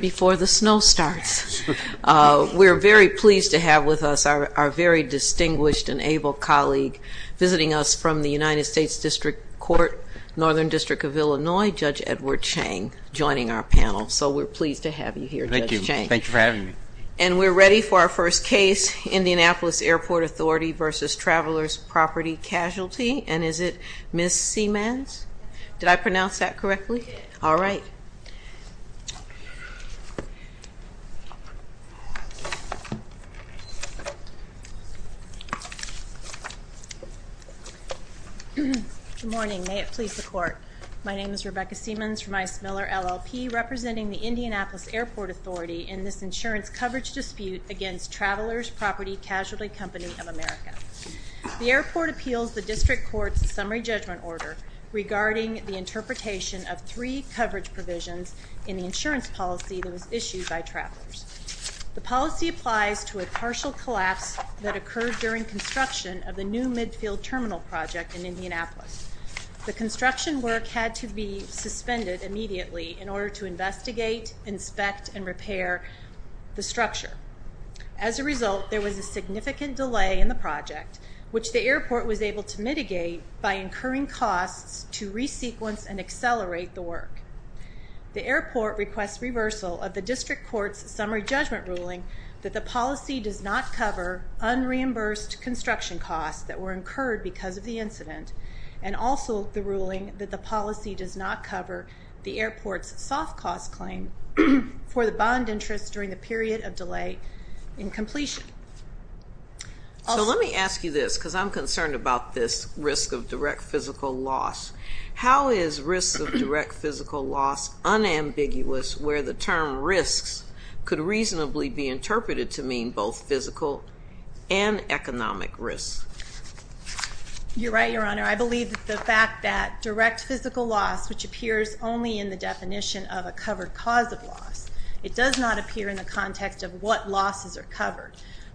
before the snow starts. We're very pleased to have with us our very distinguished and able colleague visiting us from the United States District Court, Northern District of Illinois, Judge Edward Chang, joining our panel. So we're pleased to have you here, Judge Chang. Thank you. Thank you for having me. And we're ready for our first case, Indianapolis Airport Authority v. Travelers Property Casualty Company. And is it Ms. Seamans? Did I pronounce that correctly? All right. Good morning. May it please the Court. My name is Rebecca Seamans from I.C. Miller LLP representing the Indianapolis Airport Authority in this insurance coverage dispute against Travelers Property Casualty Company of America. The airport appeals the District Court's summary judgment order regarding the interpretation of three coverage provisions in the insurance policy that was issued by Travelers. The policy applies to a partial collapse that occurred during construction of the new midfield terminal project in Indianapolis. The construction work had to be suspended immediately in order to investigate, inspect, and repair the structure. As a result, there was a significant delay in the project, which the airport was able to mitigate by incurring costs to resequence and accelerate the work. The airport requests reversal of the District Court's summary judgment ruling that the policy does not cover unreimbursed construction costs that were incurred because of the incident, and also the ruling that the policy does not cover the airport's soft cost claim for the bond interest during the delay in completion. So let me ask you this, because I'm concerned about this risk of direct physical loss. How is risk of direct physical loss unambiguous where the term risks could reasonably be interpreted to mean both physical and economic risks? You're right, Your Honor. I believe the fact that direct physical loss, which appears only in the definition of a covered cause of loss, it does not appear in the context of what losses are covered.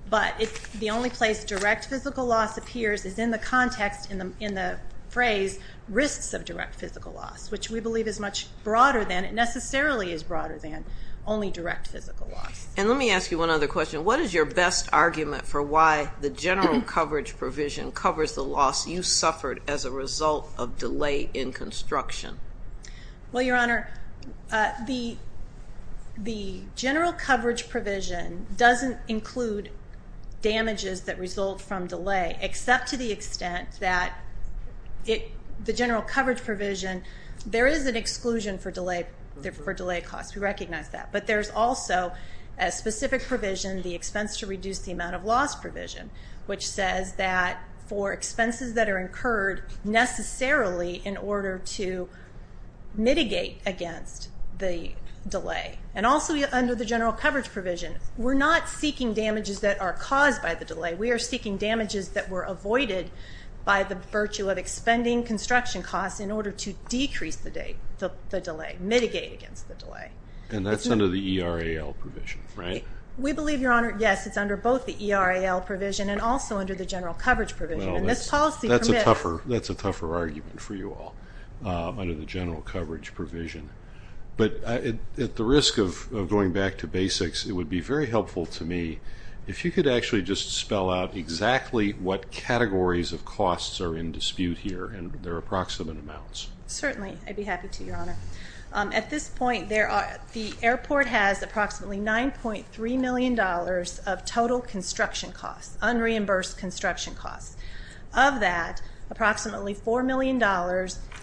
But the only place direct physical loss appears is in the context in the phrase risks of direct physical loss, which we believe is much broader than, it necessarily is broader than, only direct physical loss. And let me ask you one other question. What is your best argument for why the general coverage provision covers the loss you suffered as a result of delay in construction? Well, Your Honor, the general coverage provision doesn't include damages that result from delay, except to the extent that the general coverage provision, there is an exclusion for delay costs. We recognize that. But there's also a specific provision, the expense to reduce the amount of loss provision, which says that for expenses that are incurred necessarily in order to mitigate against the delay. And also under the general coverage provision, we're not seeking damages that are caused by the delay. We are seeking damages that were avoided by the virtue of expending construction costs in order to decrease the delay, mitigate against the delay. And that's under the ERAL provision, right? We believe, Your Honor, yes, it's under both the ERAL provision and also under the general coverage provision. And this policy permits... That's a tougher argument for you all, under the general coverage provision. But at the risk of going back to basics, it would be very helpful to me if you could actually just spell out exactly what categories of costs are in dispute here and their approximate amounts. Certainly, I'd be happy to, Your Honor. At this point, the airport has approximately $9.3 million of total construction costs, unreimbursed construction costs. Of that, approximately $4 million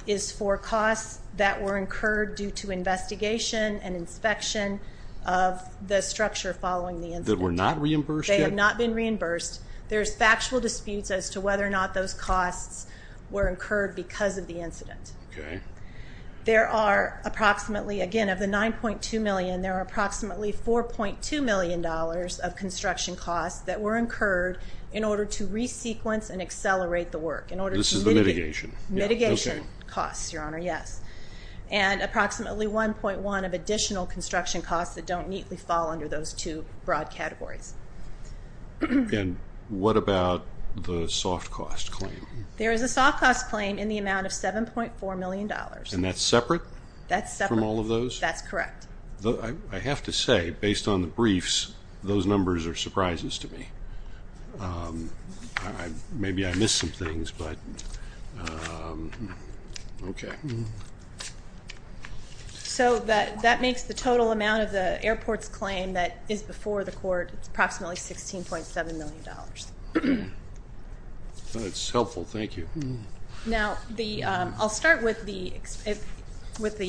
is for costs that were incurred due to investigation and inspection of the structure following the incident. That were not reimbursed yet? They have not been reimbursed. There's factual disputes as to whether or not those costs were incurred because of the incident. Okay. There are approximately, again, of the $9.2 million, there are approximately $4.2 million of construction costs that were incurred in order to resequence and accelerate the work, in order to mitigate... This is the mitigation? Mitigation costs, Your Honor, yes. And approximately $1.1 of additional construction costs that don't neatly fall under those two broad categories. And what about the soft cost claim? There is a soft cost claim in the amount of $7.4 million. And that's separate? That's separate. From all of those? That's correct. I have to say, based on the briefs, those numbers are surprises to me. Maybe I missed some things, but, okay. So that makes the total amount of the airport's claim that is before the court approximately $16.7 million. That's helpful, thank you. Now I'll start with the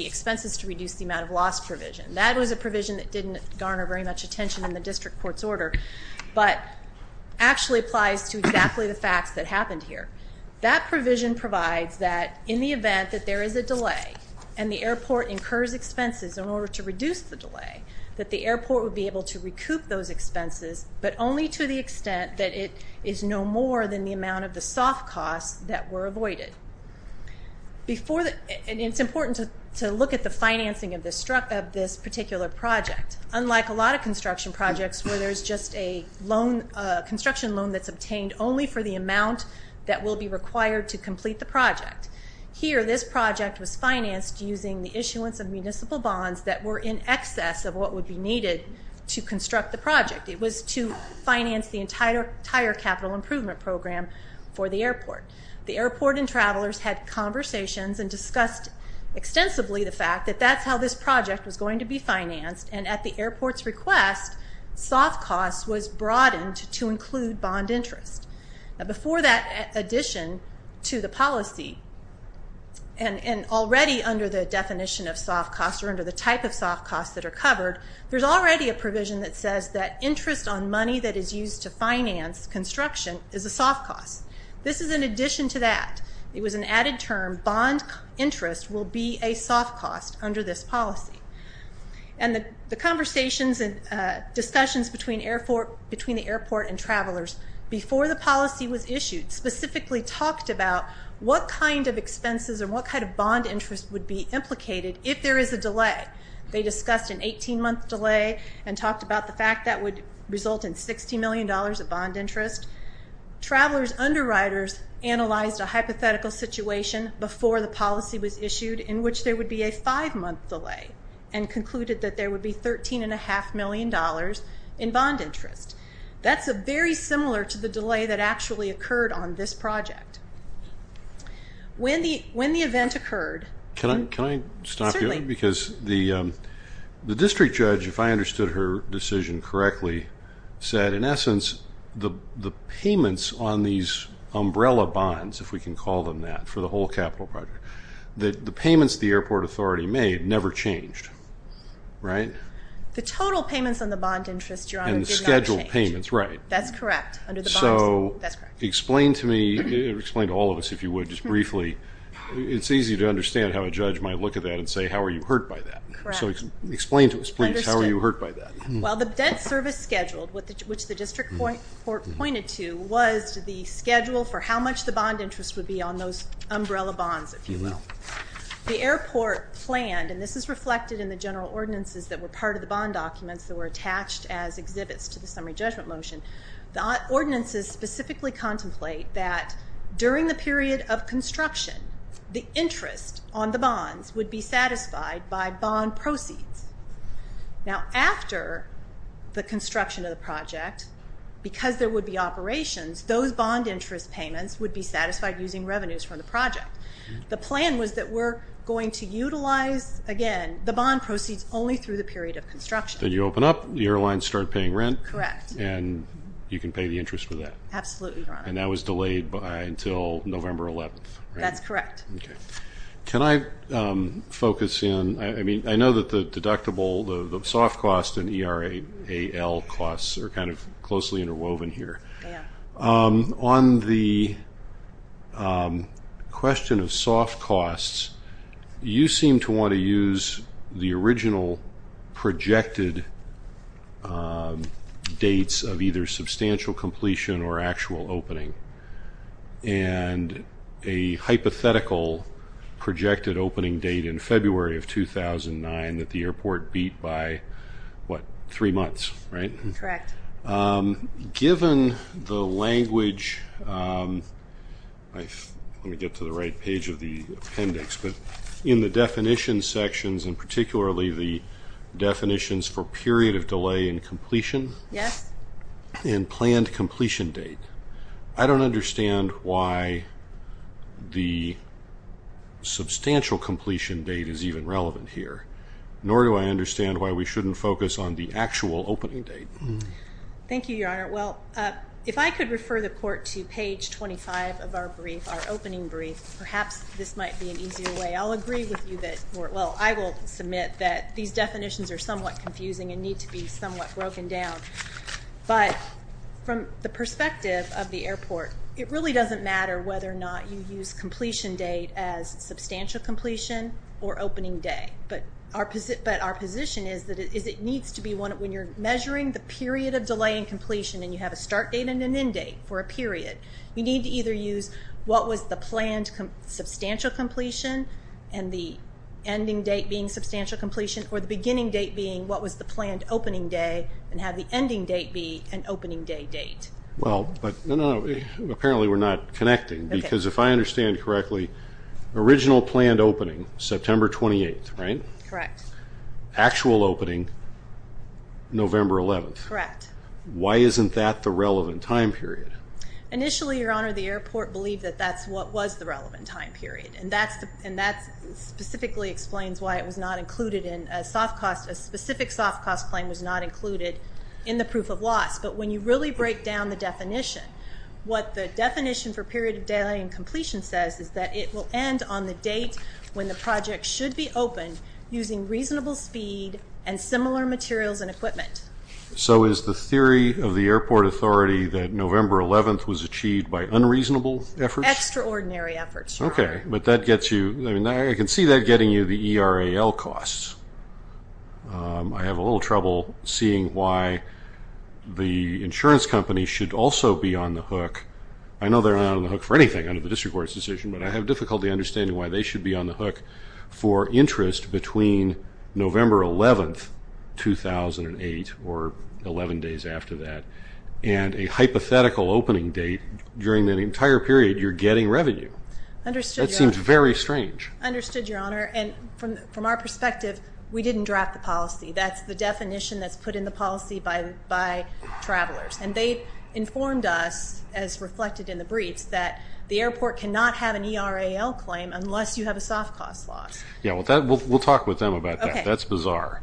expenses to reduce the amount of loss provision. That was a provision that didn't garner very much attention in the district court's order, but actually applies to exactly the facts that happened here. That provision provides that in the event that there is a delay and the airport incurs expenses in order to reduce the delay, that the airport would be able to recoup those expenses. That it is no more than the amount of the soft costs that were avoided. It's important to look at the financing of this particular project. Unlike a lot of construction projects where there's just a construction loan that's obtained only for the amount that will be required to complete the project. Here this project was financed using the issuance of municipal bonds that were in excess of what would be needed to construct the project. It was to finance the entire capital improvement program for the airport. The airport and travelers had conversations and discussed extensively the fact that that's how this project was going to be financed, and at the airport's request, soft costs was broadened to include bond interest. Before that addition to the policy, and already under the definition of soft costs or under the type of soft costs that are covered, there's already a provision that says that interest on money that is used to finance construction is a soft cost. This is in addition to that. It was an added term. Bond interest will be a soft cost under this policy. The conversations and discussions between the airport and travelers before the policy was issued specifically talked about what kind of expenses and what kind of bond interest would be implicated if there is a delay. They discussed an 18-month delay and talked about the fact that would result in $60 million of bond interest. Travelers' underwriters analyzed a hypothetical situation before the policy was issued in which there would be a five-month delay and concluded that there would be $13.5 million in bond interest. That's very similar to the delay that actually occurred on this project. When the event occurred... Can I stop you? Certainly. Because the district judge, if I understood her decision correctly, said in essence the payments on these umbrella bonds, if we can call them that, for the whole capital project, the payments the airport authority made never changed, right? The total payments on the bond interest, Your Honor, did not change. And the scheduled payments, right. That's correct. Under the bonds, that's correct. Explain to me, explain to all of us, if you would, just briefly, it's easy to understand how a judge might look at that and say, how are you hurt by that? Correct. So explain to us, please, how are you hurt by that? Well, the debt service schedule, which the district court pointed to, was the schedule for how much the bond interest would be on those umbrella bonds, if you will. The airport planned, and this is reflected in the general ordinances that were part of the bond documents that were attached as exhibits to the summary judgment motion, the ordinances specifically contemplate that during the period of construction, the interest on the bonds would be satisfied by bond proceeds. Now, after the construction of the project, because there would be operations, those bond interest payments would be satisfied using revenues from the project. The plan was that we're going to utilize, again, the bond proceeds only through the period of construction. Then you open up, the airlines start paying rent. Correct. And you can pay the interest for that. Absolutely, Your Honor. And that was delayed until November 11th, right? That's correct. Okay. Can I focus in? I mean, I know that the deductible, the soft costs and ERAAL costs are kind of closely interwoven here. Yeah. On the question of soft costs, you seem to want to use the original projected dates of either substantial completion or actual opening and a hypothetical projected opening date in February of 2009 that the airport beat by, what, three months, right? Correct. Given the language, let me get to the right page of the appendix, but in the definition sections and particularly the definitions for period of delay and completion and planned completion date, I don't understand why the substantial completion date is even relevant here, nor do I understand why we shouldn't focus on the actual opening date. Thank you, Your Honor. Well, if I could refer the Court to page 25 of our brief, our opening brief, perhaps this might be an easier way. I'll agree with you that, well, I will submit that these definitions are somewhat confusing and need to be somewhat broken down. But from the perspective of the airport, it really doesn't matter whether or not you use the completion date as substantial completion or opening day. But our position is that it needs to be when you're measuring the period of delay and completion and you have a start date and an end date for a period, you need to either use what was the planned substantial completion and the ending date being substantial completion or the beginning date being what was the planned opening day and have the ending date be an opening day date. Well, but, no, no, no, apparently we're not connecting because if I understand correctly, original planned opening, September 28th, right? Correct. Actual opening, November 11th. Correct. Why isn't that the relevant time period? Initially, Your Honor, the airport believed that that's what was the relevant time period and that specifically explains why it was not included in a soft cost, a specific soft cost claim was not included in the proof of loss. But when you really break down the definition, what the definition for period of delay and completion says is that it will end on the date when the project should be opened using reasonable speed and similar materials and equipment. So is the theory of the airport authority that November 11th was achieved by unreasonable efforts? Extraordinary efforts, Your Honor. Okay, but that gets you, I can see that getting you the ERAL costs. I have a little trouble seeing why the insurance company should also be on the hook. I know they're not on the hook for anything under the district court's decision, but I have difficulty understanding why they should be on the hook for interest between November 11th, 2008 or 11 days after that and a hypothetical opening date during that entire period you're getting revenue. Understood, Your Honor. That seems very strange. Understood, Your Honor. And from our perspective, we didn't draft the policy. That's the definition that's put in the policy by travelers. And they informed us, as reflected in the briefs, that the airport cannot have an ERAL claim unless you have a soft cost loss. Yeah, we'll talk with them about that. That's bizarre.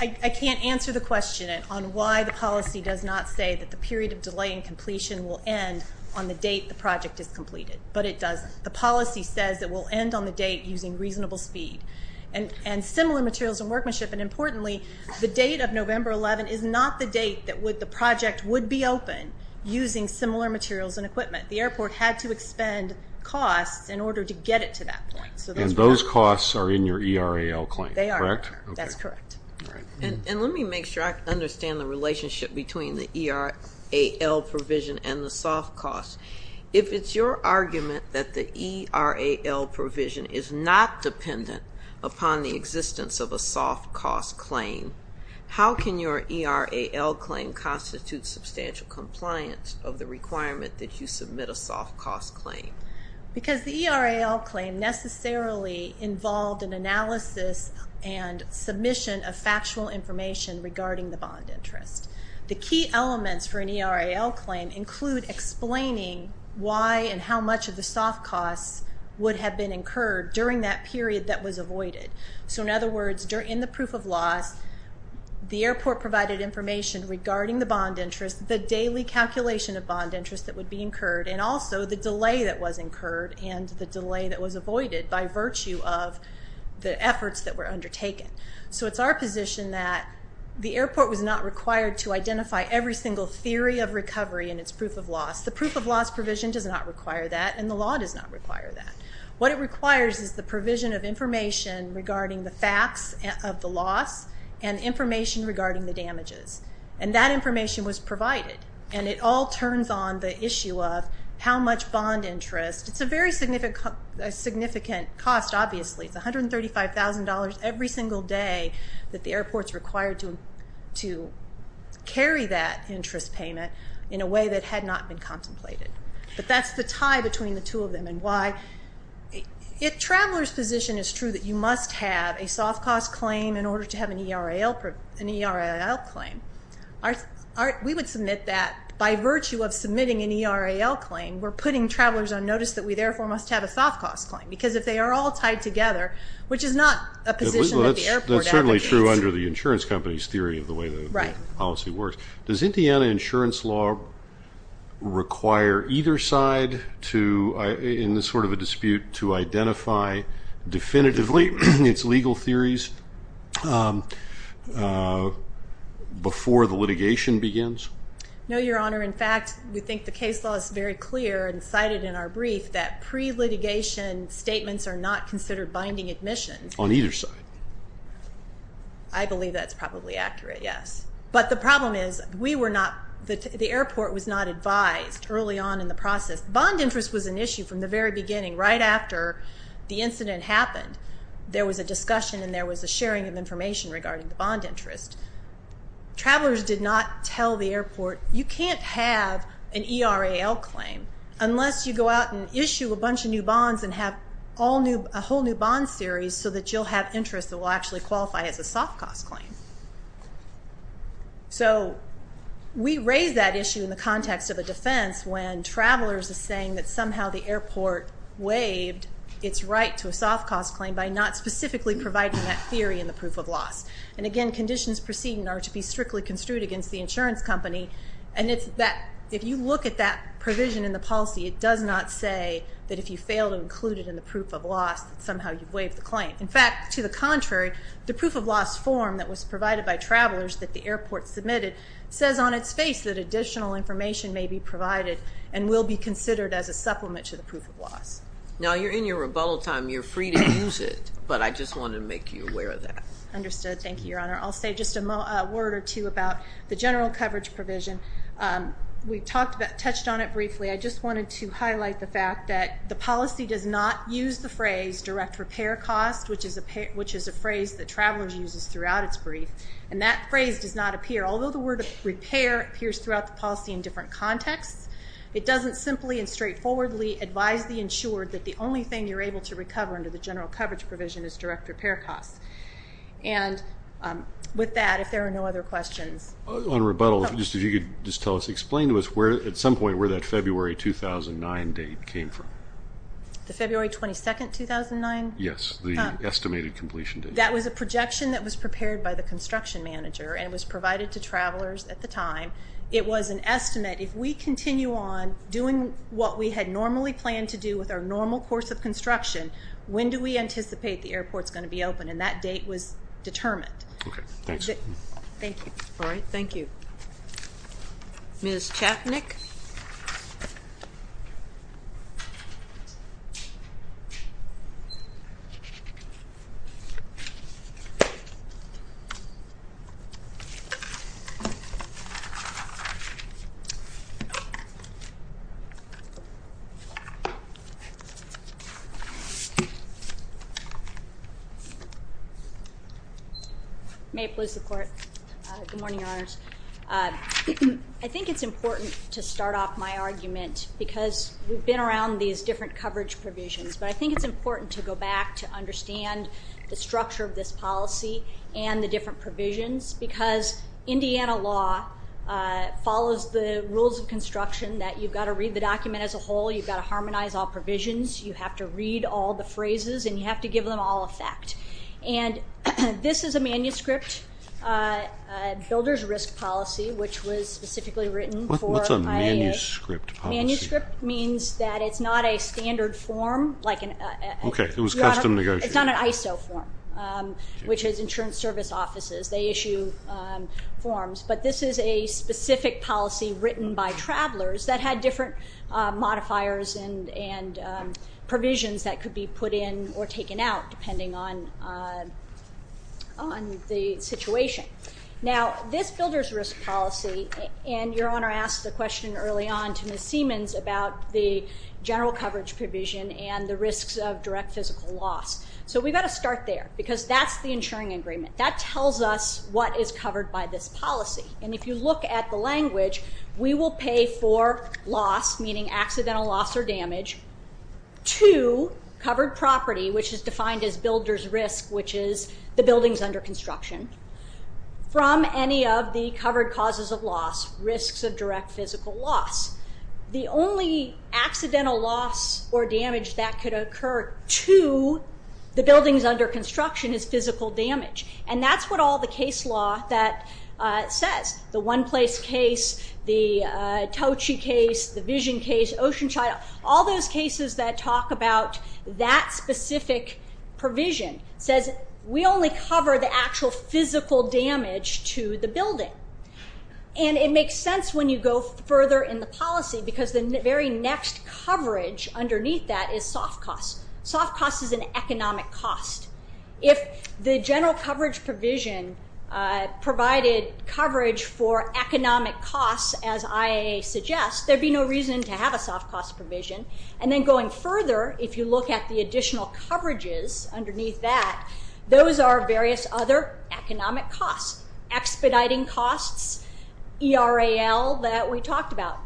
I can't answer the question on why the policy does not say that the period of delay in completion will end on the date the project is completed. But it does. The policy says it will end on the date using reasonable speed and similar materials and workmanship. And importantly, the date of November 11th is not the date that the project would be open using similar materials and equipment. The airport had to expend costs in order to get it to that point. And those costs are in your ERAL claim, correct? They are, Your Honor. That's correct. And let me make sure I understand the relationship between the ERAL provision and the soft cost. If it's your argument that the ERAL provision is not dependent upon the existence of a soft cost claim, how can your ERAL claim constitute substantial compliance of the requirement that you submit a soft cost claim? Because the ERAL claim necessarily involved an analysis and submission of factual information regarding the bond interest. The key elements for an ERAL claim include explaining why and how much of the soft costs would have been incurred during that period that was avoided. So in other words, in the proof of loss, the airport provided information regarding the daily calculation of bond interest that would be incurred and also the delay that was incurred and the delay that was avoided by virtue of the efforts that were undertaken. So it's our position that the airport was not required to identify every single theory of recovery in its proof of loss. The proof of loss provision does not require that and the law does not require that. What it requires is the provision of information regarding the facts of the loss and information regarding the damages. And that information was provided. And it all turns on the issue of how much bond interest. It's a very significant cost, obviously. It's $135,000 every single day that the airport's required to carry that interest payment in a way that had not been contemplated. But that's the tie between the two of them and why. If a traveler's position is true that you must have a soft cost claim in order to have an ERL claim, we would submit that by virtue of submitting an ERL claim. We're putting travelers on notice that we therefore must have a soft cost claim because if they are all tied together, which is not a position that the airport advocates. That's certainly true under the insurance company's theory of the way the policy works. Does Indiana insurance law require either side in this sort of a dispute to identify definitively its legal theories before the litigation begins? No, Your Honor. In fact, we think the case law is very clear and cited in our brief that pre-litigation statements are not considered binding admissions. On either side? I believe that's probably accurate, yes. But the problem is the airport was not advised early on in the process. Bond interest was an issue from the very beginning right after the incident happened. There was a discussion and there was a sharing of information regarding the bond interest. Travelers did not tell the airport, you can't have an ERL claim unless you go out and issue a bunch of new bonds and have a whole new bond series so that you'll have interest that will actually qualify as a soft cost claim. So we raise that issue in the context of a defense when travelers are saying that somehow the airport waived its right to a soft cost claim by not specifically providing that theory in the proof of loss. And again, conditions proceeding are to be strictly construed against the insurance company. And if you look at that provision in the policy, it does not say that if you fail to include it in the proof of loss that somehow you've waived the claim. In fact, to the contrary, the proof of loss form that was provided by travelers that the airport submitted says on its face that additional information may be provided and will be considered as a supplement to the proof of loss. Now you're in your rebuttal time, you're free to use it, but I just wanted to make you aware of that. Understood. Thank you, Your Honor. I'll say just a word or two about the general coverage provision. We've touched on it briefly. I just wanted to highlight the fact that the policy does not use the phrase direct repair cost, which is a phrase that Travelers uses throughout its brief, and that phrase does not appear. Although the word repair appears throughout the policy in different contexts, it doesn't simply and straightforwardly advise the insured that the only thing you're able to recover under the general coverage provision is direct repair costs. And with that, if there are no other questions. On rebuttal, if you could just tell us, explain to us at some point where that February 2009 date came from. The February 22, 2009? Yes, the estimated completion date. That was a projection that was prepared by the construction manager and was provided to travelers at the time. It was an estimate. If we continue on doing what we had normally planned to do with our normal course of construction, when do we anticipate the airport's going to be open? And that date was determined. Okay. Thanks. Thank you. All right. Thank you. Ms. Chapnick. May it please the Court. Good morning, Your Honors. I think it's important to start off my argument because we've been around these different coverage provisions, but I think it's important to go back to understand the structure of this policy and the different provisions because Indiana law follows the rules of construction that you've got to read the document as a whole, you've got to harmonize all provisions, you have to read all the phrases, and you have to give them all effect. And this is a manuscript, Builder's Risk Policy, which was specifically written for IEA. What's a manuscript policy? Manuscript means that it's not a standard form. Okay. It was custom negotiated. It's not an ISO form, which is Insurance Service Offices. They issue forms. But this is a specific policy written by travelers that had different modifiers and provisions that could be put in or taken out depending on the situation. Now, this Builder's Risk Policy, and Your Honor asked the question early on to Ms. Siemens about the general coverage provision and the risks of direct physical loss. So we've got to start there because that's the insuring agreement. That tells us what is covered by this policy. And if you look at the language, we will pay for loss, meaning accidental loss or damage, to covered property, which is defined as Builder's Risk, which is the buildings under construction, from any of the covered causes of loss, risks of direct physical loss. The only accidental loss or damage that could occur to the buildings under construction is physical damage. And that's what all the case law that says. The One Place case, the Tochi case, the Vision case, Ocean Child, all those cases that talk about that specific provision says we only cover the actual physical damage to the building. And it makes sense when you go further in the policy because the very next coverage underneath that is soft costs. Soft costs is an economic cost. If the general coverage provision provided coverage for economic costs, as IA suggests, there would be no reason to have a soft cost provision. And then going further, if you look at the additional coverages underneath that, those are various other economic costs, expediting costs, ERAL that we talked about.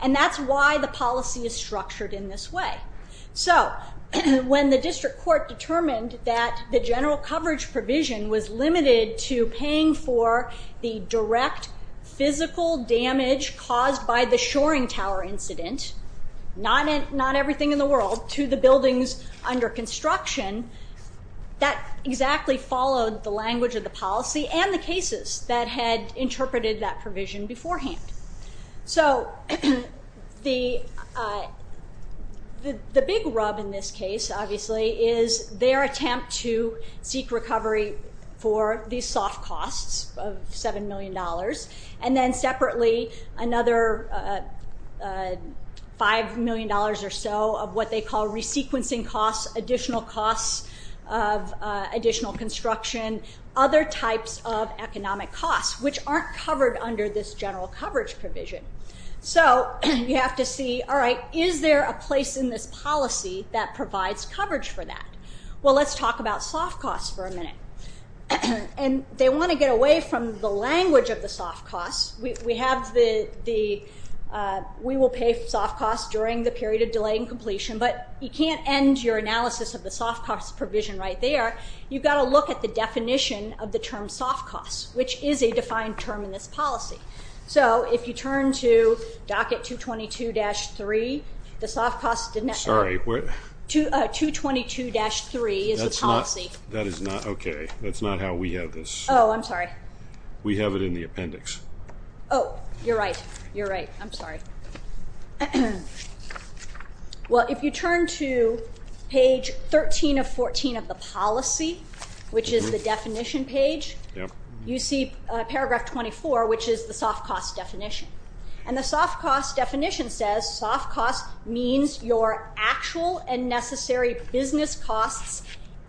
And that's why the policy is structured in this way. So when the district court determined that the general coverage provision was limited to paying for the direct physical damage caused by the Shoring Tower incident, not everything in the world, to the buildings under construction, that exactly followed the language of the policy and the cases that had interpreted that provision beforehand. So the big rub in this case, obviously, is their attempt to seek recovery for these soft costs of $7 million and then separately another $5 million or so of what they call resequencing costs, additional costs of additional construction, other types of economic costs, which aren't covered under this general coverage provision. So you have to see, all right, is there a place in this policy that provides coverage for that? Well, let's talk about soft costs for a minute. And they want to get away from the language of the soft costs. We have the, we will pay soft costs during the period of delay in completion, but you can't end your analysis of the soft cost provision right there. You've got to look at the definition of the term soft cost, which is a defined term in this policy. So if you turn to docket 222-3, the soft cost. Sorry, what? 222-3 is the policy. That is not, okay. That's not how we have this. Oh, I'm sorry. We have it in the appendix. Oh, you're right. You're right. I'm sorry. Well, if you turn to page 13 of 14 of the policy, which is the definition page, you see paragraph 24, which is the soft cost definition. And the soft cost definition says soft costs means your actual and necessary business costs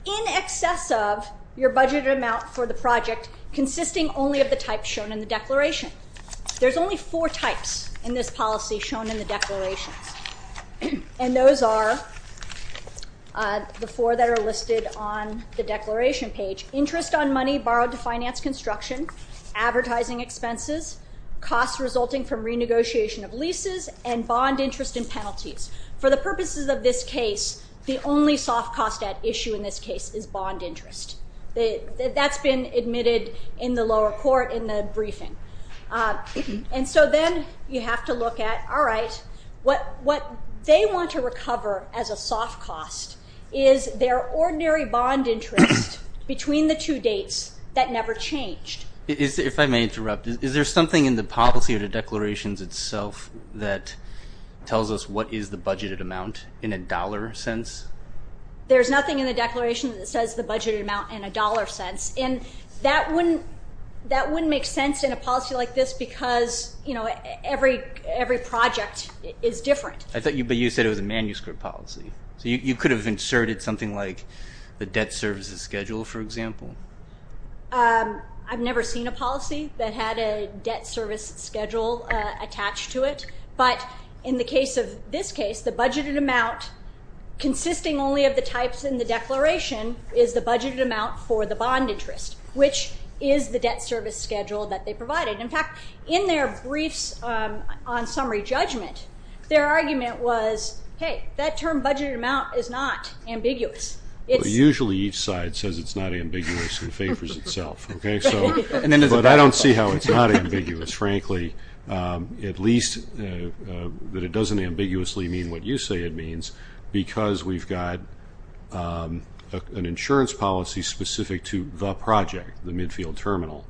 in excess of your budgeted amount for the project consisting only of the types shown in the declaration. There's only four types in this policy shown in the declarations, and those are the four that are listed on the declaration page. Interest on money borrowed to finance construction, advertising expenses, costs resulting from renegotiation of leases, and bond interest and penalties. For the purposes of this case, the only soft cost at issue in this case is bond interest. That's been admitted in the lower court in the briefing. And so then you have to look at, all right, what they want to recover as a soft cost is their ordinary bond interest between the two dates that never changed. If I may interrupt, is there something in the policy or the declarations itself that tells us what is the budgeted amount in a dollar sense? There's nothing in the declaration that says the budgeted amount in a dollar sense. And that wouldn't make sense in a policy like this because every project is different. But you said it was a manuscript policy. So you could have inserted something like the debt services schedule, for example? I've never seen a policy that had a debt service schedule attached to it. But in the case of this case, the budgeted amount consisting only of the types in the declaration is the budgeted amount for the bond interest, which is the debt service schedule that they provided. In fact, in their briefs on summary judgment, their argument was, hey, that term budgeted amount is not ambiguous. Usually each side says it's not ambiguous and favors itself. But I don't see how it's not ambiguous, frankly. At least that it doesn't ambiguously mean what you say it means because we've got an insurance policy specific to the project, the midfield terminal,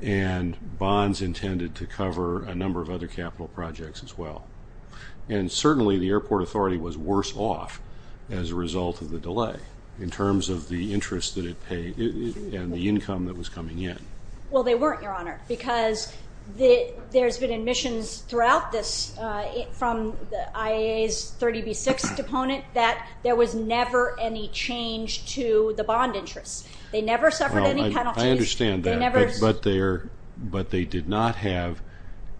and bonds intended to cover a number of other capital projects as well. And certainly the airport authority was worse off as a result of the delay in terms of the interest that it paid and the income that was coming in. Well, they weren't, Your Honor, because there's been admissions throughout this from the IAA's 30B6 deponent that there was never any change to the bond interest. They never suffered any penalties. I understand that, but they did not have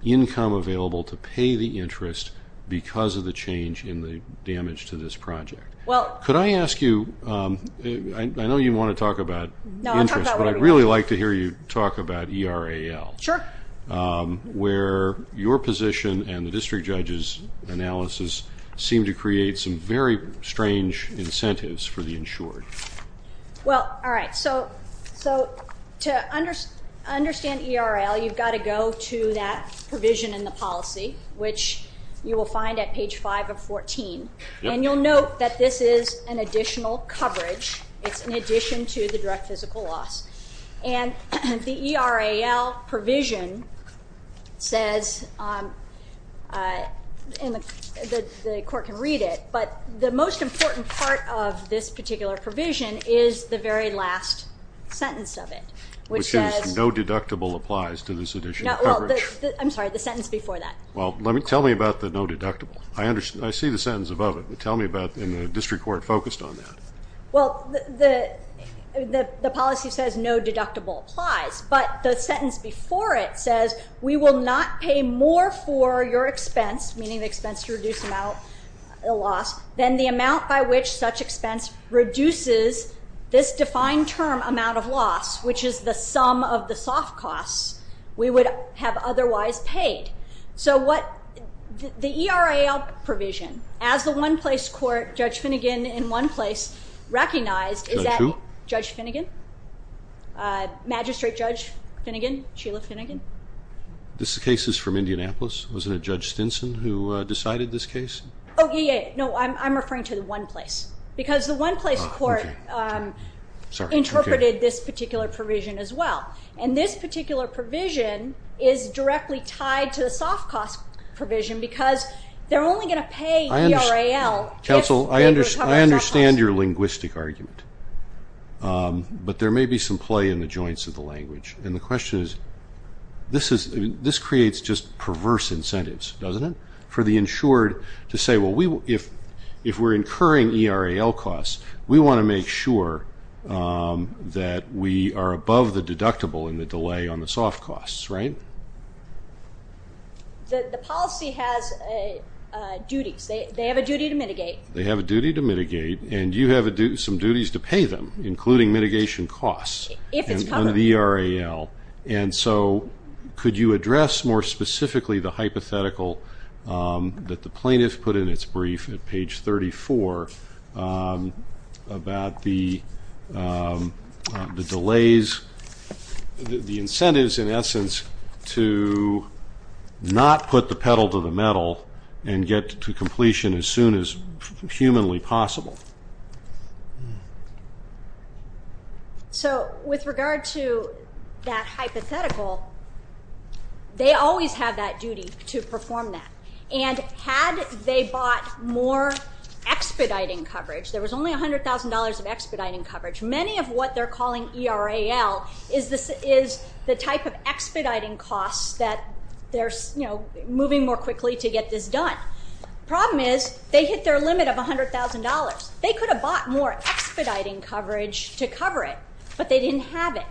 income available to pay the interest because of the change in the damage to this project. Could I ask you, I know you want to talk about interest, but I'd really like to hear you talk about ERAL. Sure. Where your position and the district judge's analysis seem to create some very strange incentives for the insured. Well, all right. So to understand ERAL, you've got to go to that provision in the policy, which you will find at page 5 of 14. And you'll note that this is an additional coverage. It's in addition to the direct physical loss. And the ERAL provision says, and the court can read it, but the most important part of this particular provision is the very last sentence of it, which says no deductible applies to this additional coverage. I'm sorry, the sentence before that. Well, tell me about the no deductible. I see the sentence above it, but tell me about the district court focused on that. Well, the policy says no deductible applies, but the sentence before it says we will not pay more for your expense, meaning the expense to reduce the loss, than the amount by which such expense reduces this defined term amount of loss, which is the sum of the soft costs we would have otherwise paid. So the ERAL provision, as the one-place court, Judge Finnegan in one place, recognized that Judge Finnegan, Magistrate Judge Finnegan, Sheila Finnegan. This case is from Indianapolis. Wasn't it Judge Stinson who decided this case? No, I'm referring to the one-place, because the one-place court interpreted this particular provision as well. And this particular provision is directly tied to the soft cost provision, because they're only going to pay ERAL. Counsel, I understand your linguistic argument, but there may be some play in the joints of the language. And the question is, this creates just perverse incentives, doesn't it, for the insured to say, well, if we're incurring ERAL costs, we want to make sure that we are above the deductible in the delay on the soft costs, right? The policy has duties. They have a duty to mitigate. They have a duty to mitigate, and you have some duties to pay them, including mitigation costs on the ERAL. If it's covered. And so could you address more specifically the hypothetical that the plaintiff put in its brief at page 34 about the delays, the incentives in essence to not put the pedal to the metal and get to completion as soon as humanly possible? So with regard to that hypothetical, they always have that duty to perform that. And had they bought more expediting coverage, there was only $100,000 of expediting coverage. Many of what they're calling ERAL is the type of expediting costs that they're moving more quickly to get this done. The problem is they hit their limit of $100,000. They could have bought more expediting coverage to cover it, but they didn't have it.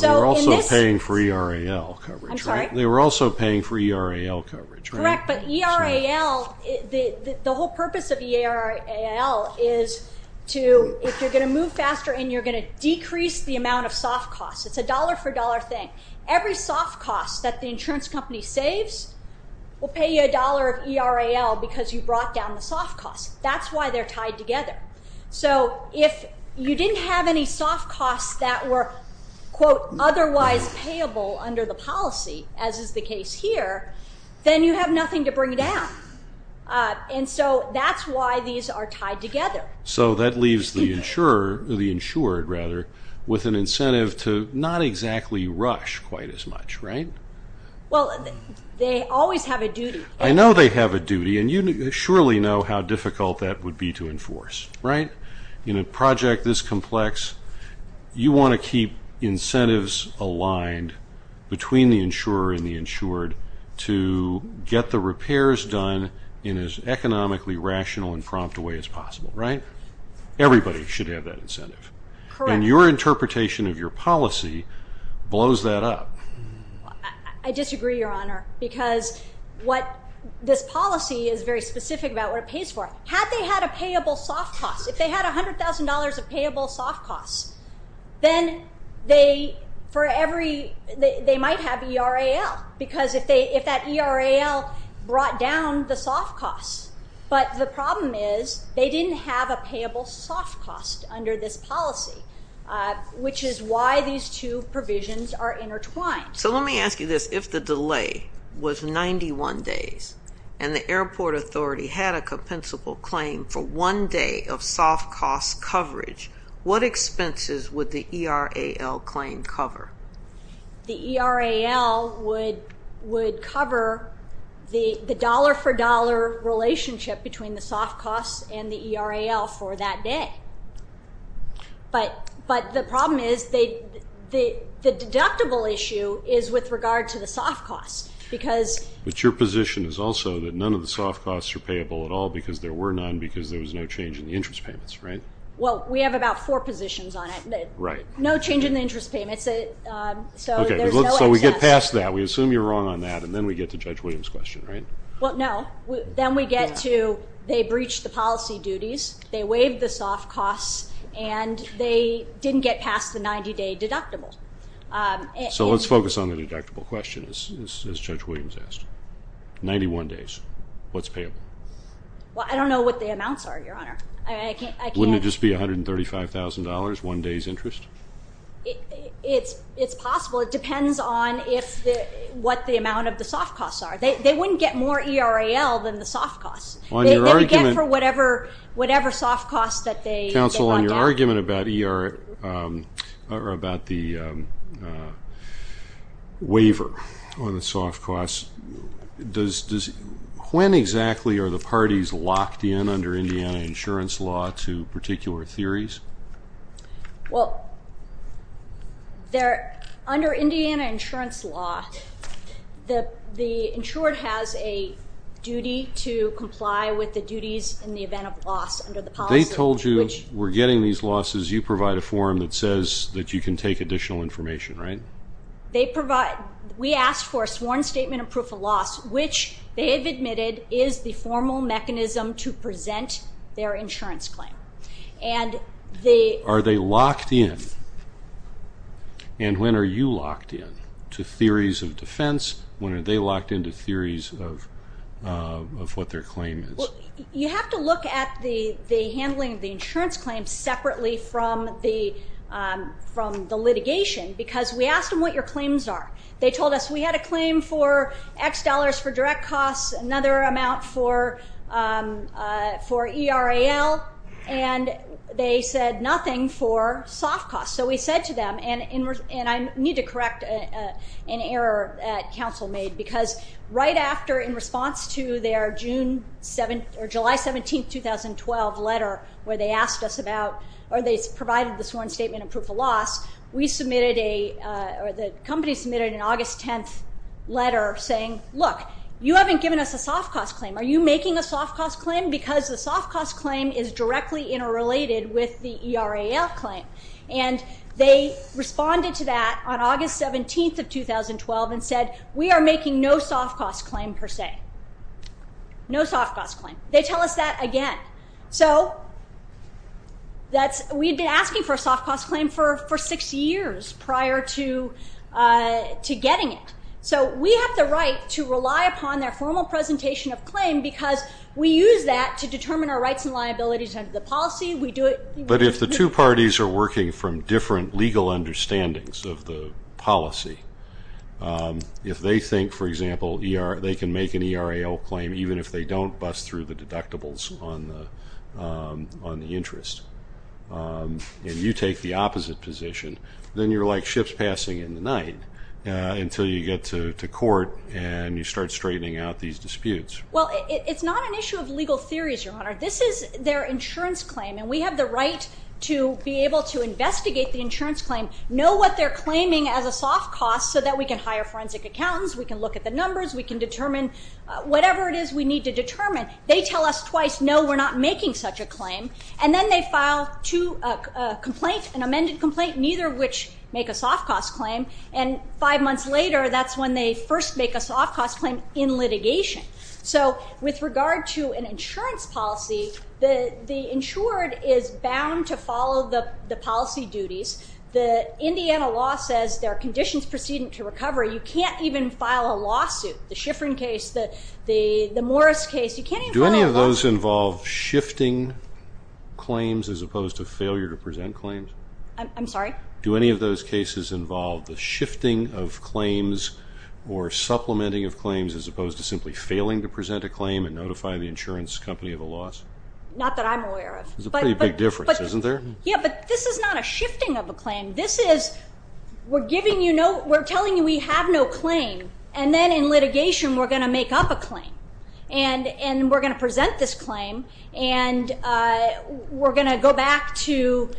They were also paying for ERAL coverage, right? I'm sorry? They were also paying for ERAL coverage, right? Correct, but ERAL, the whole purpose of ERAL is to, if you're going to move faster and you're going to decrease the amount of soft costs. It's a dollar-for-dollar thing. Every soft cost that the insurance company saves will pay you a dollar of ERAL because you brought down the soft costs. That's why they're tied together. So if you didn't have any soft costs that were, quote, otherwise payable under the policy, as is the case here, then you have nothing to bring down. And so that's why these are tied together. So that leaves the insured with an incentive to not exactly rush quite as much, right? Well, they always have a duty. I know they have a duty, and you surely know how difficult that would be to enforce, right? In a project this complex, you want to keep incentives aligned between the insurer and the insured to get the repairs done in as economically rational and prompt a way as possible, right? Everybody should have that incentive. Correct. And your interpretation of your policy blows that up. I disagree, Your Honor, because this policy is very specific about what it pays for. Had they had a payable soft cost, if they had $100,000 of payable soft costs, then they might have ERAL because if that ERAL brought down the soft costs. But the problem is they didn't have a payable soft cost under this policy, which is why these two provisions are intertwined. So let me ask you this. If the delay was 91 days and the airport authority had a compensable claim for one day of soft cost coverage, what expenses would the ERAL claim cover? The ERAL would cover the dollar-for-dollar relationship between the soft costs and the ERAL for that day. But the problem is the deductible issue is with regard to the soft costs. But your position is also that none of the soft costs are payable at all because there were none because there was no change in the interest payments, right? Well, we have about four positions on it. Right. No change in the interest payments, so there's no excess. So we get past that. We assume you're wrong on that, and then we get to Judge Williams' question, right? Well, no. Then we get to they breached the policy duties, they waived the soft costs, and they didn't get past the 90-day deductible. So let's focus on the deductible question, as Judge Williams asked. Ninety-one days, what's payable? Well, I don't know what the amounts are, Your Honor. Wouldn't it just be $135,000, one day's interest? It's possible. It depends on what the amount of the soft costs are. They wouldn't get more ERAL than the soft costs. They would get for whatever soft costs that they brought down. Counsel, on your argument about the waiver on the soft costs, when exactly are the parties locked in under Indiana insurance law to particular theories? Well, under Indiana insurance law, the insured has a duty to comply with the duties in the event of loss under the policy. They told you we're getting these losses. You provide a form that says that you can take additional information, right? We asked for a sworn statement of proof of loss, which they have admitted is the formal mechanism to present their insurance claim. Are they locked in? And when are you locked in to theories of defense? When are they locked in to theories of what their claim is? You have to look at the handling of the insurance claim separately from the litigation because we asked them what your claims are. They told us we had a claim for X dollars for direct costs, another amount for ERAL, and they said nothing for soft costs. So we said to them, and I need to correct an error Counsel made because right after in response to their July 17, 2012 letter where they asked us about or they provided the sworn statement of proof of loss, the company submitted an August 10th letter saying, Look, you haven't given us a soft cost claim. Are you making a soft cost claim? Because the soft cost claim is directly interrelated with the ERAL claim. And they responded to that on August 17th of 2012 and said, We are making no soft cost claim per se. No soft cost claim. They tell us that again. So we had been asking for a soft cost claim for six years prior to getting it. So we have the right to rely upon their formal presentation of claim because we use that to determine our rights and liabilities under the policy. But if the two parties are working from different legal understandings of the policy, if they think, for example, they can make an ERAL claim even if they don't bust through the deductibles on the interest, and you take the opposite position, then you're like ships passing in the night until you get to court and you start straightening out these disputes. Well, it's not an issue of legal theories, Your Honor. This is their insurance claim, and we have the right to be able to investigate the insurance claim, know what they're claiming as a soft cost so that we can hire forensic accountants, we can look at the numbers, we can determine whatever it is we need to determine. They tell us twice, No, we're not making such a claim. And then they file a complaint, an amended complaint, neither of which make a soft cost claim, and five months later that's when they first make a soft cost claim in litigation. So with regard to an insurance policy, the insured is bound to follow the policy duties. The Indiana law says there are conditions preceding to recovery. You can't even file a lawsuit. The Schifrin case, the Morris case, you can't even file a lawsuit. Do those involve shifting claims as opposed to failure to present claims? I'm sorry? Do any of those cases involve the shifting of claims or supplementing of claims as opposed to simply failing to present a claim and notify the insurance company of a loss? Not that I'm aware of. There's a pretty big difference, isn't there? Yeah, but this is not a shifting of a claim. This is we're telling you we have no claim, and then in litigation we're going to make up a claim, and we're going to present this claim, and we're going to go back to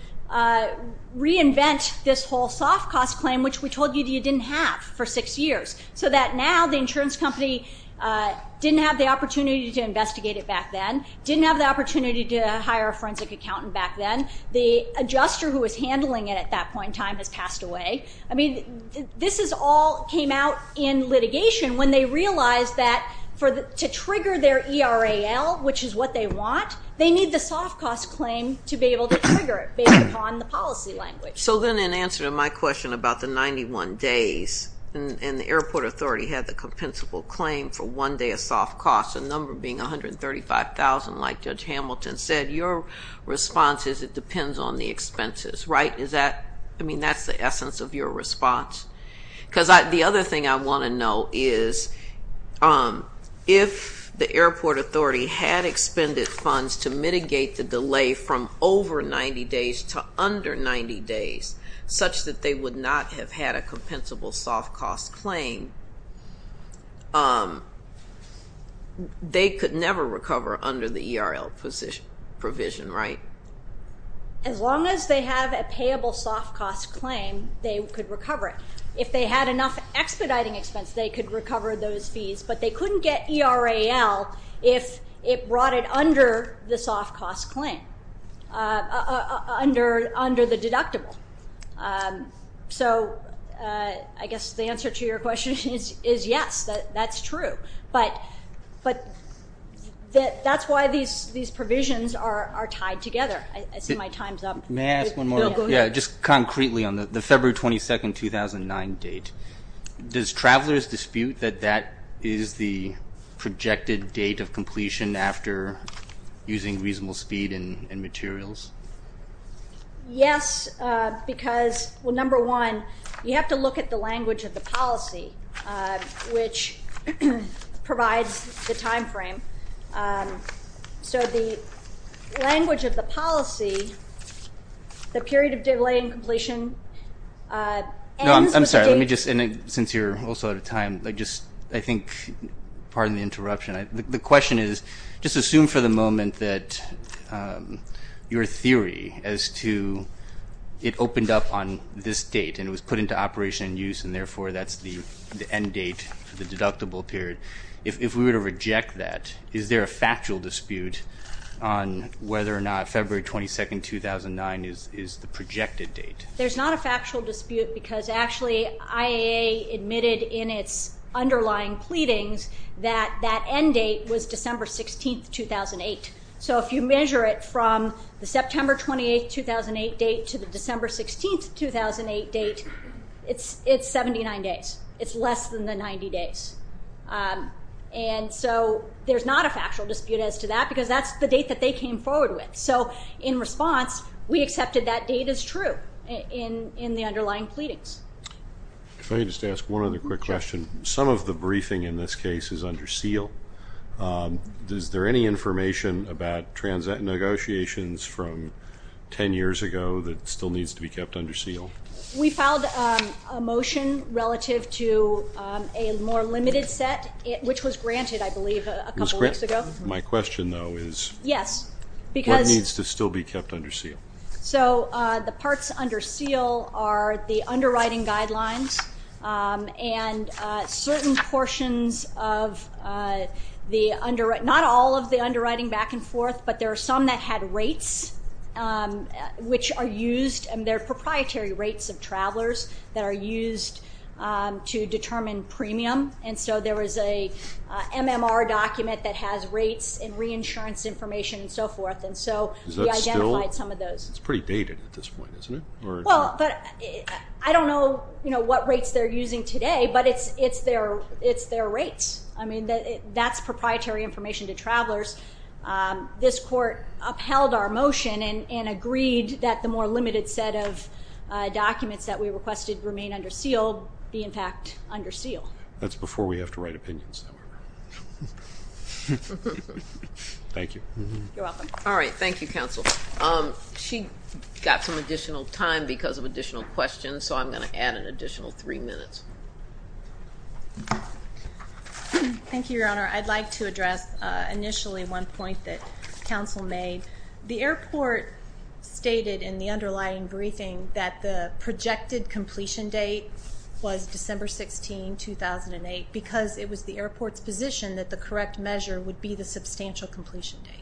reinvent this whole soft cost claim, which we told you you didn't have for six years, so that now the insurance company didn't have the opportunity to investigate it back then, didn't have the opportunity to hire a forensic accountant back then. The adjuster who was handling it at that point in time has passed away. This all came out in litigation when they realized that to trigger their ERAL, which is what they want, they need the soft cost claim to be able to trigger it based upon the policy language. So then in answer to my question about the 91 days, and the airport authority had the compensable claim for one day of soft costs, a number being $135,000 like Judge Hamilton said, your response is it depends on the expenses, right? I mean, that's the essence of your response. Because the other thing I want to know is if the airport authority had expended funds to mitigate the delay from over 90 days to under 90 days, such that they would not have had a compensable soft cost claim, they could never recover under the ERL provision, right? As long as they have a payable soft cost claim, they could recover it. If they had enough expediting expense, they could recover those fees, but they couldn't get ERAL if it brought it under the soft cost claim, under the deductible. So I guess the answer to your question is yes, that's true. But that's why these provisions are tied together. I see my time's up. May I ask one more? Yeah, just concretely on the February 22, 2009 date, does travelers dispute that that is the projected date of completion after using reasonable speed and materials? Yes, because, well, number one, you have to look at the language of the policy, which provides the time frame. So the language of the policy, the period of delay in completion ends with the date. No, I'm sorry. Let me just, since you're also out of time, I think pardon the interruption. The question is just assume for the moment that your theory as to it opened up on this date and it was put into operation and use and, therefore, that's the end date, the deductible period. If we were to reject that, is there a factual dispute on whether or not February 22, 2009 is the projected date? There's not a factual dispute because actually IAA admitted in its underlying pleadings that that end date was December 16, 2008. So if you measure it from the September 28, 2008 date to the December 16, 2008 date, it's 79 days. It's less than the 90 days. And so there's not a factual dispute as to that because that's the date that they came forward with. So in response, we accepted that date is true in the underlying pleadings. If I could just ask one other quick question. Some of the briefing in this case is under seal. Is there any information about transit negotiations from 10 years ago that still needs to be kept under seal? We filed a motion relative to a more limited set, which was granted, I believe, a couple weeks ago. My question, though, is what needs to still be kept under seal? So the parts under seal are the underwriting guidelines and certain portions of the underwriting, not all of the underwriting back and forth, but there are some that had rates which are used, and they're proprietary rates of travelers that are used to determine premium. And so there was a MMR document that has rates and reinsurance information and so forth. And so we identified some of those. It's pretty dated at this point, isn't it? Well, but I don't know what rates they're using today, but it's their rates. I mean, that's proprietary information to travelers. This court upheld our motion and agreed that the more limited set of documents that we requested remain under seal be, in fact, under seal. That's before we have to write opinions, however. Thank you. You're welcome. All right. Thank you, Counsel. She got some additional time because of additional questions, so I'm going to add an additional three minutes. Thank you, Your Honor. I'd like to address initially one point that Counsel made. The airport stated in the underlying briefing that the projected completion date was December 16, 2008, because it was the airport's position that the correct measure would be the substantial completion date.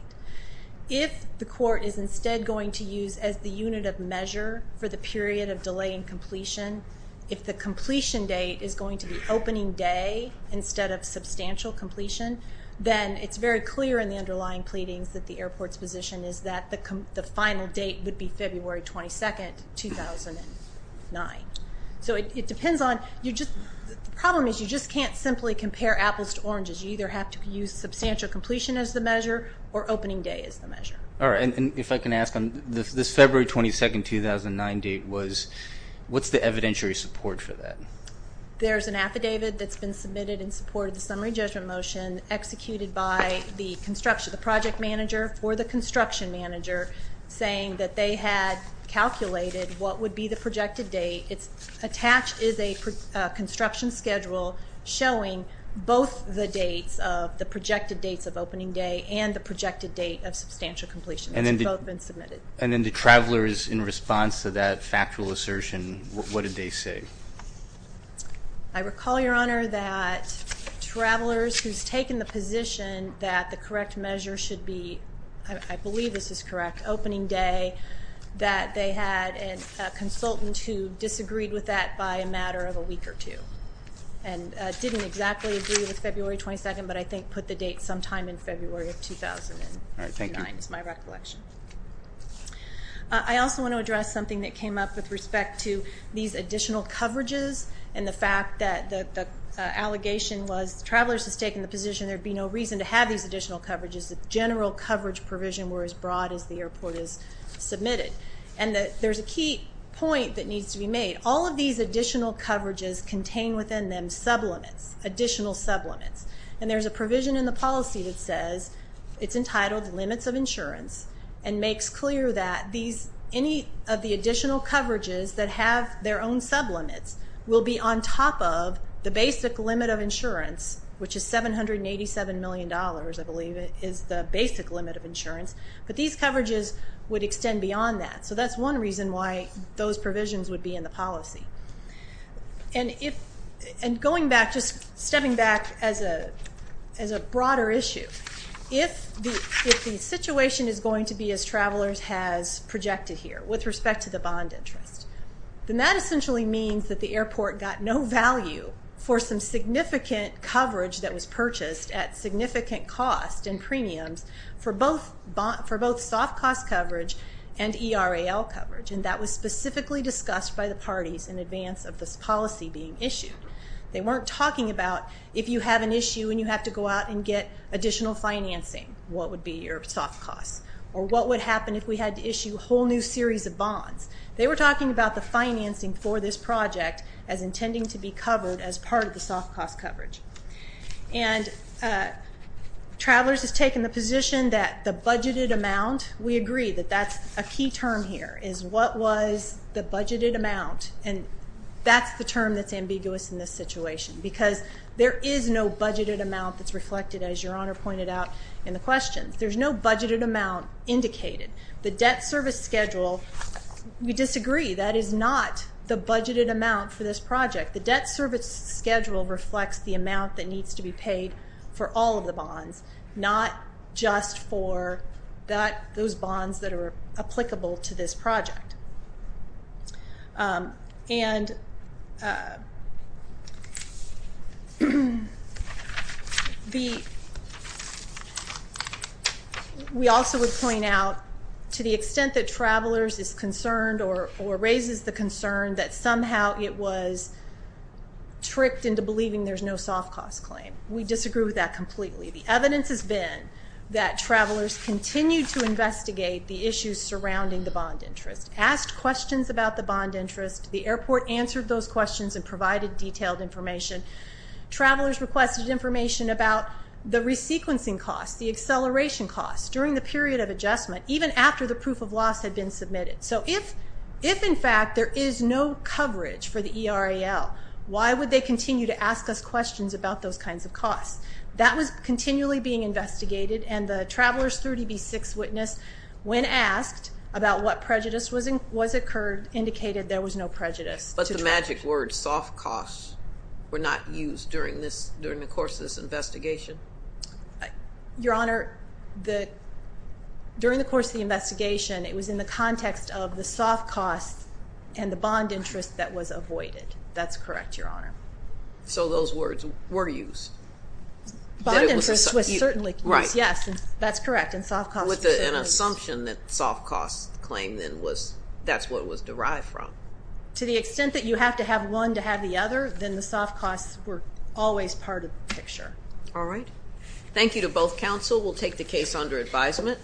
If the court is instead going to use as the unit of measure for the period of delay in completion, if the completion date is going to be opening day instead of substantial completion, then it's very clear in the underlying pleadings that the airport's position is that the final date would be February 22, 2009. So it depends on you just the problem is you just can't simply compare apples to oranges. You either have to use substantial completion as the measure or opening day as the measure. All right. And if I can ask, this February 22, 2009 date, what's the evidentiary support for that? There's an affidavit that's been submitted in support of the summary judgment motion executed by the project manager for the construction manager saying that they had calculated what would be the projected date. Attached is a construction schedule showing both the dates of the projected dates of opening day and the projected date of substantial completion. And then the travelers in response to that factual assertion, what did they say? I recall, Your Honor, that travelers who's taken the position that the correct measure should be, I believe this is correct, opening day, that they had a consultant who disagreed with that by a matter of a week or two. And didn't exactly agree with February 22, but I think put the date sometime in February of 2009 is my recollection. All right. Thank you. I also want to address something that came up with respect to these additional coverages and the fact that the allegation was travelers has taken the position there'd be no reason to have these additional coverages. The general coverage provision were as broad as the airport has submitted. And there's a key point that needs to be made. All of these additional coverages contain within them sublimits, additional sublimits. And there's a provision in the policy that says it's entitled limits of insurance and makes clear that any of the additional coverages that have their own sublimits will be on top of the basic limit of insurance, which is $787 million, I believe is the basic limit of insurance. But these coverages would extend beyond that. So that's one reason why those provisions would be in the policy. And going back, just stepping back as a broader issue, if the situation is going to be as travelers has projected here with respect to the bond interest, then that essentially means that the airport got no value for some significant coverage that was purchased at significant cost and premiums for both soft cost coverage and ERAL coverage. And that was specifically discussed by the parties in advance of this policy being issued. They weren't talking about if you have an issue and you have to go out and get additional financing, what would be your soft costs or what would happen if we had to issue a whole new series of bonds. They were talking about the financing for this project as intending to be covered as part of the soft cost coverage. And travelers has taken the position that the budgeted amount, we agree that that's a key term here, is what was the budgeted amount, and that's the term that's ambiguous in this situation because there is no budgeted amount that's reflected, as Your Honor pointed out in the questions. There's no budgeted amount indicated. The debt service schedule, we disagree. That is not the budgeted amount for this project. The debt service schedule reflects the amount that needs to be paid for all of the bonds, not just for those bonds that are applicable to this project. And we also would point out to the extent that travelers is concerned or raises the concern that somehow it was tricked into believing there's no soft cost claim. We disagree with that completely. The evidence has been that travelers continued to investigate the issues surrounding the bond interest, asked questions about the bond interest. The airport answered those questions and provided detailed information. Travelers requested information about the resequencing costs, the acceleration costs, during the period of adjustment, even after the proof of loss had been submitted. So if, in fact, there is no coverage for the ERAL, that was continually being investigated, and the Travelers 30B6 witness, when asked about what prejudice was incurred, indicated there was no prejudice. But the magic word, soft costs, were not used during the course of this investigation? Your Honor, during the course of the investigation, it was in the context of the soft costs and the bond interest that was avoided. That's correct, Your Honor. So those words were used? Bond interest was certainly used, yes. That's correct, and soft costs were certainly used. With an assumption that soft costs claim then was, that's what it was derived from. To the extent that you have to have one to have the other, then the soft costs were always part of the picture. All right. Thank you to both counsel. We'll take the case under advisement.